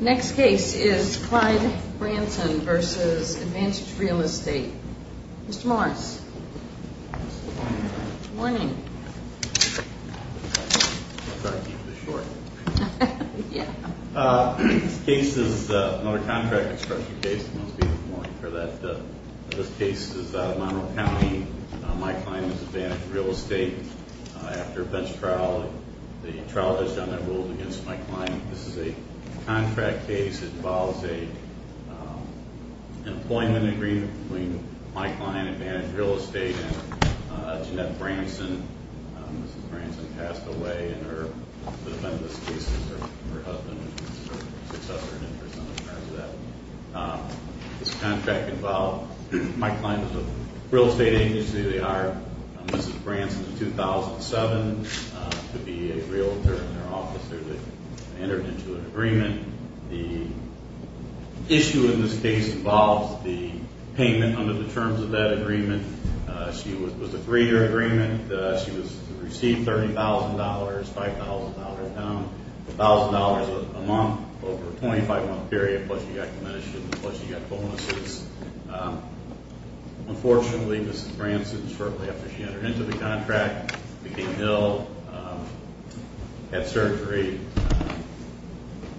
Next case is Clyde Branson v. Advantage Real Estate. Mr. Morris. Good morning. Sorry to keep this short. Yeah. This case is another contract expression case, and I'll speak more for that. This case is Monroe County. My client is Advantage Real Estate. After a bench trial, the trial judge on that ruled against my client. This is a contract case. It involves an employment agreement between my client, Advantage Real Estate, and Jeanette Branson. Mrs. Branson passed away, and the defendant's case is her husband, which is her successor in interest in terms of that. This contract involved my client as a real estate agency. They hired Mrs. Branson in 2007 to be a realtor in their office. They entered into an agreement. The issue in this case involves the payment under the terms of that agreement. She was a three-year agreement. She received $30,000, $5,000 down, $1,000 a month over a 25-month period, plus she got commission, plus she got bonuses. Unfortunately, Mrs. Branson shortly after she entered into the contract became ill, had surgery,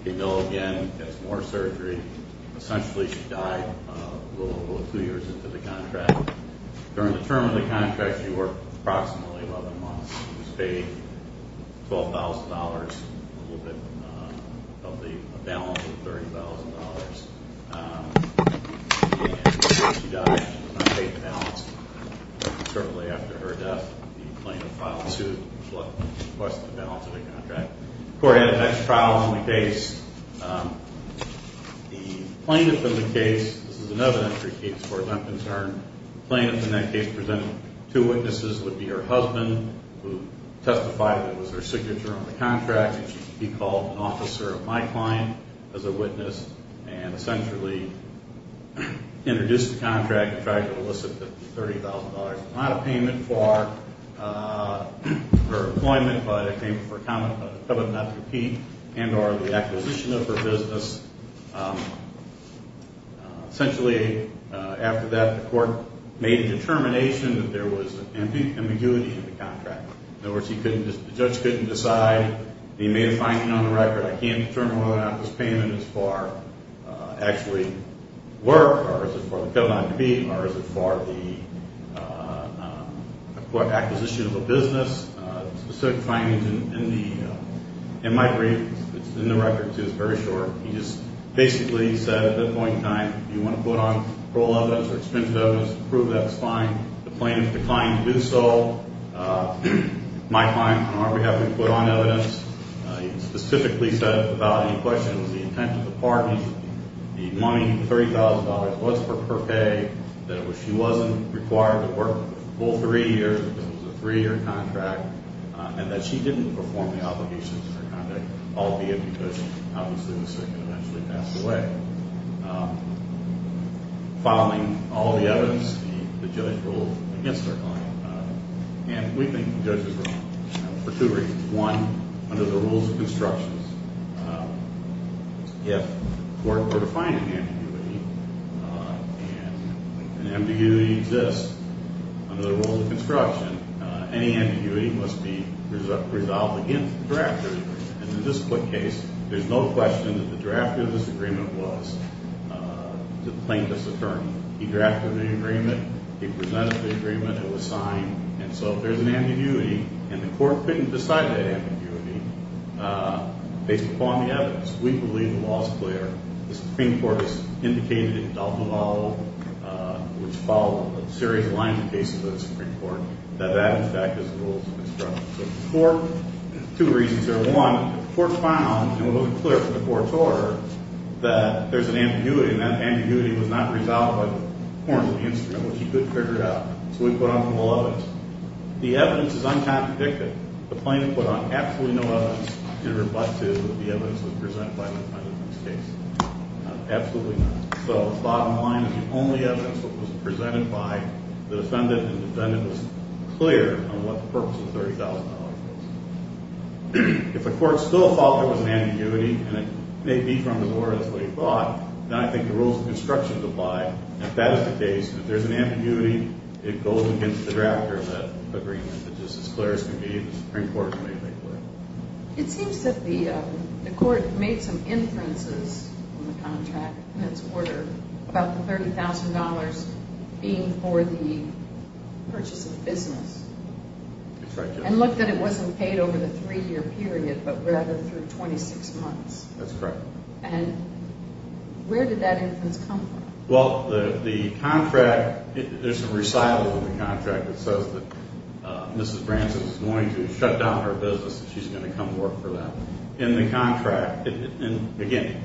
became ill again, had some more surgery. Essentially, she died a little over two years into the contract. During the term of the contract, she worked approximately 11 months. She was paid $12,000, a little bit above the balance of $30,000. And she died. She was not paid the balance. Shortly after her death, the plaintiff filed a suit requesting a balance of the contract. The court had an extra trial on the case. The plaintiff in the case, this is another entry case where I'm concerned, the plaintiff in that case presented two witnesses, would be her husband, who testified that it was her signature on the contract, and she should be called an officer of my client as a witness, and essentially introduced the contract and tried to elicit the $30,000 amount of payment for her employment, but it came for a covenant not to repeat, and or the acquisition of her business. Essentially, after that, the court made a determination that there was ambiguity in the contract. In other words, the judge couldn't decide. He made a finding on the record. I can't determine whether or not this payment is for actually work, or is it for the covenant to be, or is it for the acquisition of a business. The specific findings in my brief, it's in the record, too. It's very short. He just basically said at that point in time, if you want to put on parole evidence or expensive evidence, prove that's fine. The plaintiff declined to do so. My client, on our behalf, we put on evidence. He specifically said without any question it was the intent of the parties. The money, the $30,000, was for her pay. That she wasn't required to work a full three years because it was a three-year contract, and that she didn't perform the obligations of her conduct, albeit because, obviously, the circuit eventually passed away. Following all of the evidence, the judge ruled against our client. And we think the judge is wrong for two reasons. One, under the rules of construction, if court were to find ambiguity, and ambiguity exists under the rules of construction, any ambiguity must be resolved against the drafter. And in this case, there's no question that the drafter of this agreement was the plaintiff's attorney. He drafted the agreement. He presented the agreement. It was signed. And so if there's an ambiguity and the court couldn't decide that ambiguity based upon the evidence, we believe the law is clear. The Supreme Court has indicated in the Dalton Law, which followed a series of lines of cases in the Supreme Court, that that, in fact, is the rules of construction. So two reasons here. One, the court found, and it was clear from the court's order, that there's an ambiguity, and that ambiguity was not resolved by the performance of the instrument, which he could figure out. So we put on full evidence. The evidence is uncontradicted. The plaintiff put on absolutely no evidence, if it were but to the evidence that was presented by the defendant in this case. Absolutely not. So the bottom line is the only evidence that was presented by the defendant, and the defendant was clear on what the purpose of $30,000 was. If the court still thought there was an ambiguity, and it may be from his order, that's what he thought, then I think the rules of construction apply. If that is the case, if there's an ambiguity, it goes against the drafter of that agreement. But just as clear as can be, the Supreme Court made that clear. It seems that the court made some inferences on the contract in its order, about the $30,000 being for the purchase of business. That's right, yes. And looked that it wasn't paid over the 3-year period, but rather through 26 months. That's correct. And where did that inference come from? Well, the contract, there's a recital in the contract that says that Mrs. Branson is going to shut down her business and she's going to come work for them. In the contract, and again,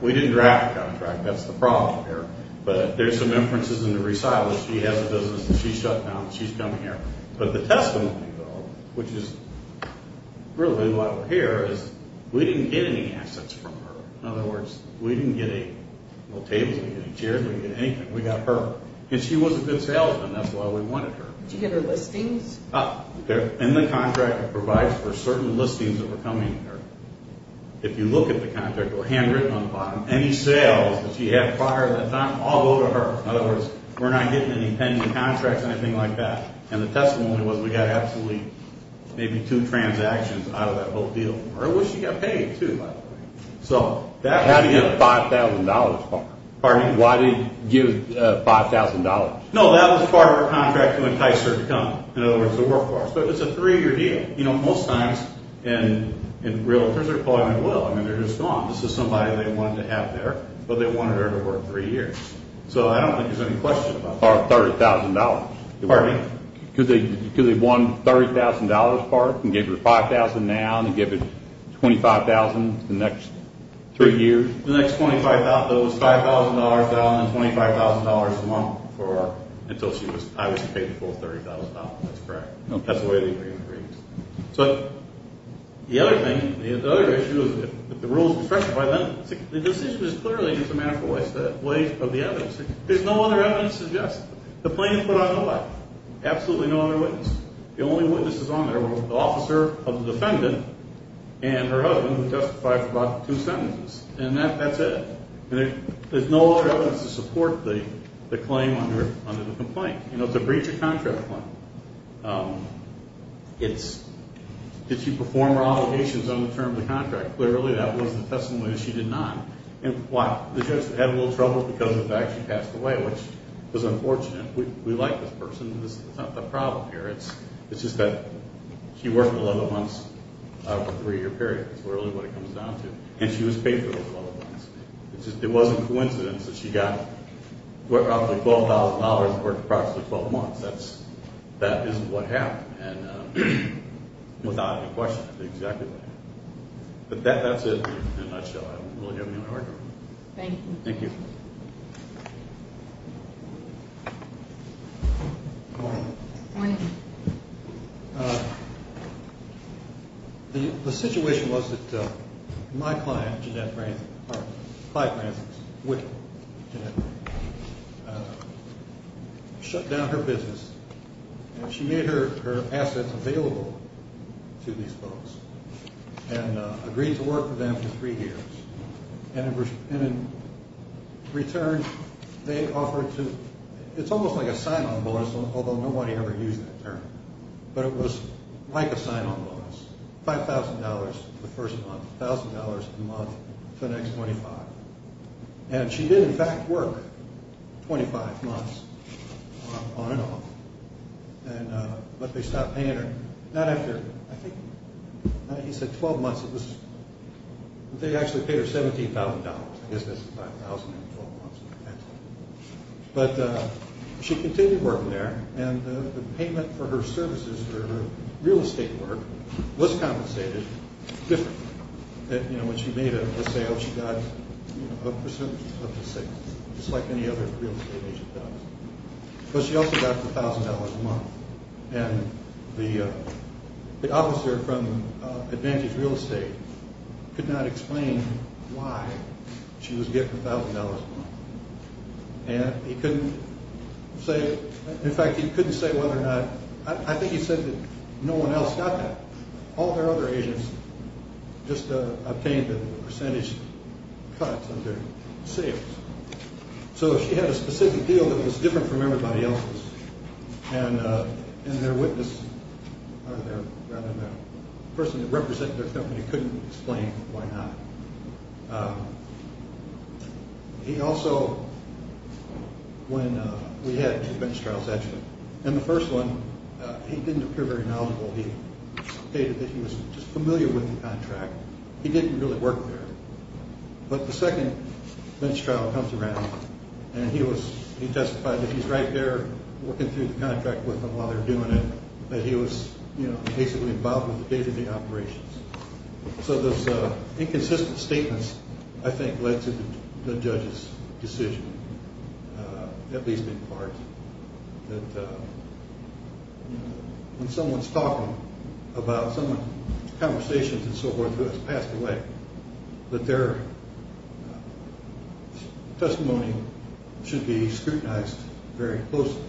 we didn't draft the contract. That's the problem here. But there's some inferences in the recital that she has a business that she shut down and she's coming here. But the testimony, though, which is really why we're here, is we didn't get any assets from her. In other words, we didn't get any tables, we didn't get any chairs, we didn't get anything. We got her. And she was a good salesman. That's why we wanted her. Did you get her listings? In the contract, it provides for certain listings that were coming to her. If you look at the contract, or handwritten on the bottom, any sales that she had prior to that time all go to her. In other words, we're not getting any pending contracts or anything like that. And the testimony was we got absolutely maybe two transactions out of that whole deal. Well, she got paid too, by the way. How do you get $5,000? Pardon me? Why do you give $5,000? No, that was part of her contract when the tithes started to come. In other words, the work force. But it's a three-year deal. You know, most times, in real terms, they're pulling it well. I mean, they're just gone. This is somebody they wanted to have there, but they wanted her to work three years. So I don't think there's any question about that. Or $30,000. Pardon me? Because they won $30,000 apart and gave her the $5,000 now and give her $25,000 the next three years. The next $25,000, though, was $5,000 down and $25,000 the month before until I was paid the full $30,000. That's correct. That's the way the agreement reads. So the other thing, the other issue is if the rules were freshened by then, the decision was clearly just a matter of ways of the evidence. There's no other evidence to suggest that. The plaintiff put on the what? Absolutely no other witness. The only witnesses on there were the officer of the defendant and her husband, who testified for about two sentences. And that's it. There's no other evidence to support the claim under the complaint. You know, it's a breach of contract claim. Did she perform her obligations on the term of the contract? Clearly, that was the testimony that she did not. And why? The judge had a little trouble because, in fact, she passed away, which was unfortunate. We like this person. It's not the problem here. It's just that she worked 11 months out of a three-year period. That's really what it comes down to. And she was paid for those 11 months. It wasn't a coincidence that she got, what, roughly $12,000 over approximately 12 months. That is what happened, and without any question, that's exactly what happened. But that's it in a nutshell. Thank you. Thank you. Good morning. Good morning. The situation was that my client, Jeanette Branson, or five Bransons, with Jeanette Branson, shut down her business. She made her assets available to these folks and agreed to work with them for three years. And in return, they offered to, it's almost like a sign-on bonus, although nobody ever used that term, but it was like a sign-on bonus, $5,000 the first month, $1,000 a month to the next 25. And she did, in fact, work 25 months on and off. But they stopped paying her not after, I think, he said 12 months. They actually paid her $17,000. I guess that's $5,000 in 12 months. But she continued working there, and the payment for her services, for her real estate work, was compensated differently. You know, when she made a sale, she got a percent of the sales, just like any other real estate agent does. But she also got the $1,000 a month, and the officer from Advantage Real Estate could not explain why she was getting $1,000 a month. And he couldn't say, in fact, he couldn't say whether or not, I think he said that no one else got that. All their other agents just obtained a percentage cut of their sales. So she had a specific deal that was different from everybody else's, and their witness, rather than the person that represented their company, couldn't explain why not. He also, when we had two bench trials, actually, and the first one, he didn't appear very knowledgeable. He stated that he was just familiar with the contract. He didn't really work there. But the second bench trial comes around, and he testified that he's right there working through the contract with them while they're doing it, but he was basically involved with the day-to-day operations. So those inconsistent statements, I think, led to the judge's decision, at least in part, that when someone's talking about someone's conversations and so forth who has passed away, that their testimony should be scrutinized very closely.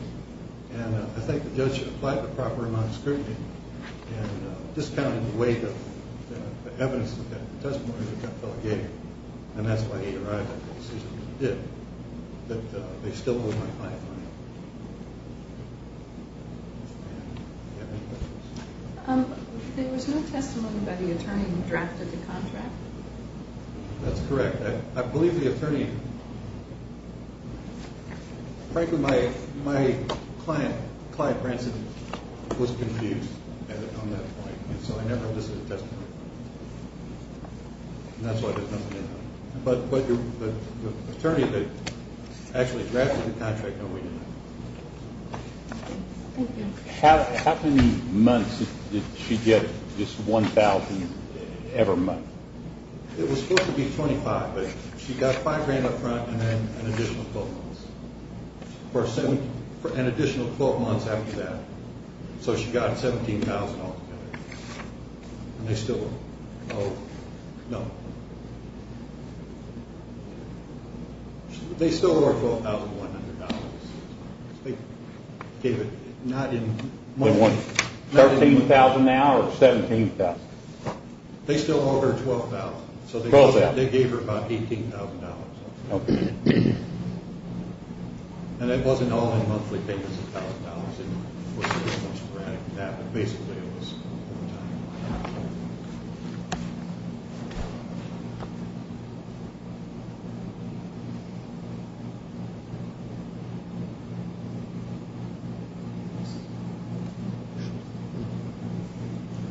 And I think the judge applied the proper amount of scrutiny and discounted the weight of the evidence that the testimony that that fellow gave, and that's why he arrived at the decision that he did, that they still owe my client money. Do you have any questions? There was no testimony by the attorney who drafted the contract. That's correct. I believe the attorney, frankly, my client, Clive Branson, was confused on that point, and so I never listed a testimony. And that's why there's nothing in there. But the attorney that actually drafted the contract, no, we didn't. How many months did she get, just $1,000 every month? It was supposed to be $25,000, but she got $5,000 up front and then an additional $4,000. For an additional four months after that. So she got $17,000 altogether. And they still owe, no, they still owe her $12,100. They gave it not in months. $13,000 now or $17,000? They still owe her $12,000. So they gave her about $18,000. Okay. And it wasn't all in monthly payments of $1,000. It was a little more sporadic than that, but basically it was over time.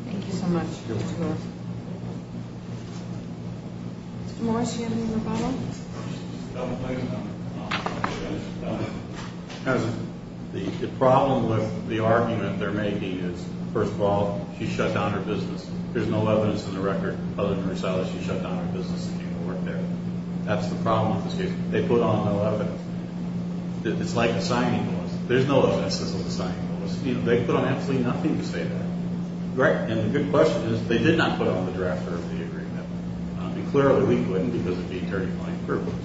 Thank you so much. You're welcome. Mr. Morris, do you have any other comments? The problem with the argument they're making is, first of all, she shut down her business. There's no evidence in the record other than her selling. She shut down her business and came to work there. That's the problem with this case. They put on no evidence. It's like a signing clause. There's no evidence of a signing clause. They put on absolutely nothing to say that. Right. And the good question is, they did not put on the draft of the agreement. And clearly we couldn't because of the attorney filing privilege.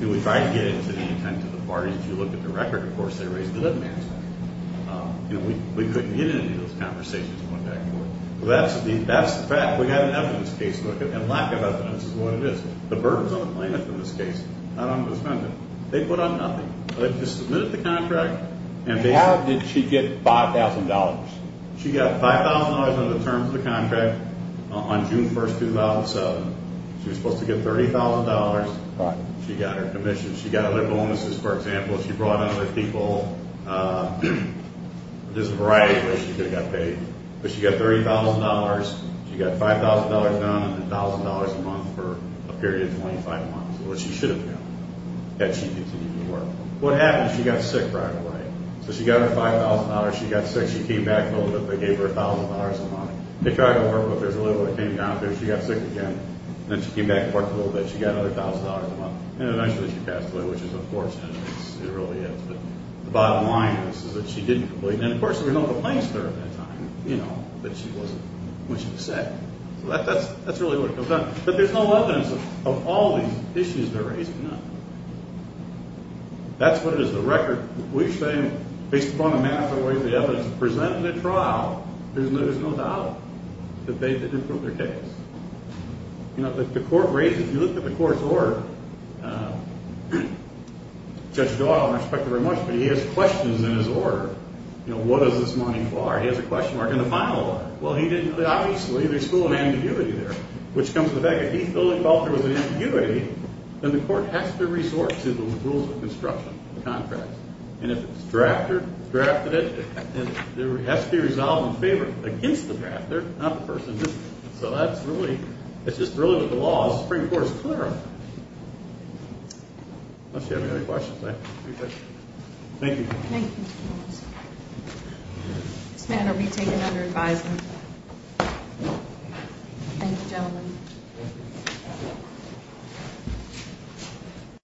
And we tried to get it to the intent of the parties. If you look at the record, of course, they raised it up and asked for it. And we couldn't get into those conversations going back and forth. That's the fact. We have an evidence case to look at, and lack of evidence is what it is. The burden's on the plaintiff in this case, not on the defendant. They put on nothing. They just submitted the contract. How did she get $5,000? She got $5,000 under the terms of the contract on June 1, 2007. She was supposed to get $30,000. Right. She got her commission. She got other bonuses. For example, she brought in other people. There's a variety of ways she could have got paid. But she got $30,000. She got $5,000 done and $1,000 a month for a period of 25 months, which she should have done, had she continued to work. What happened is she got sick right away. So she got her $5,000. She got sick. She came back a little bit, but gave her $1,000 a month. They tried to work with her. There's a little bit that came down through. She got sick again. Then she came back and worked a little bit. She got another $1,000 a month. And eventually she passed away, which is unfortunate. It really is. But the bottom line is that she didn't complete. And, of course, there was no complaints to her at that time, you know, that she wasn't what she said. So that's really what it comes down to. But there's no evidence of all these issues they're raising. That's what it is. There's a record. We're saying, based upon the manner in which the evidence is presented at trial, there's no doubt that they didn't prove their case. You know, the court raises, if you look at the court's order, Judge Doyle, and I respect him very much, but he has questions in his order. You know, what is this money for? He has a question mark in the final order. Well, he didn't, obviously, there's still an ambiguity there, which comes to the fact that if he fully felt there was an ambiguity, then the court has to resort to the rules of construction, contracts. And if it's drafted, it has to be resolved in favor against the drafter, not the person who did it. So that's really, it's just really what the law is. The Supreme Court is clear on that. Unless you have any other questions, I have three questions. Thank you. Thank you. This matter will be taken under advisement. Thank you, gentlemen.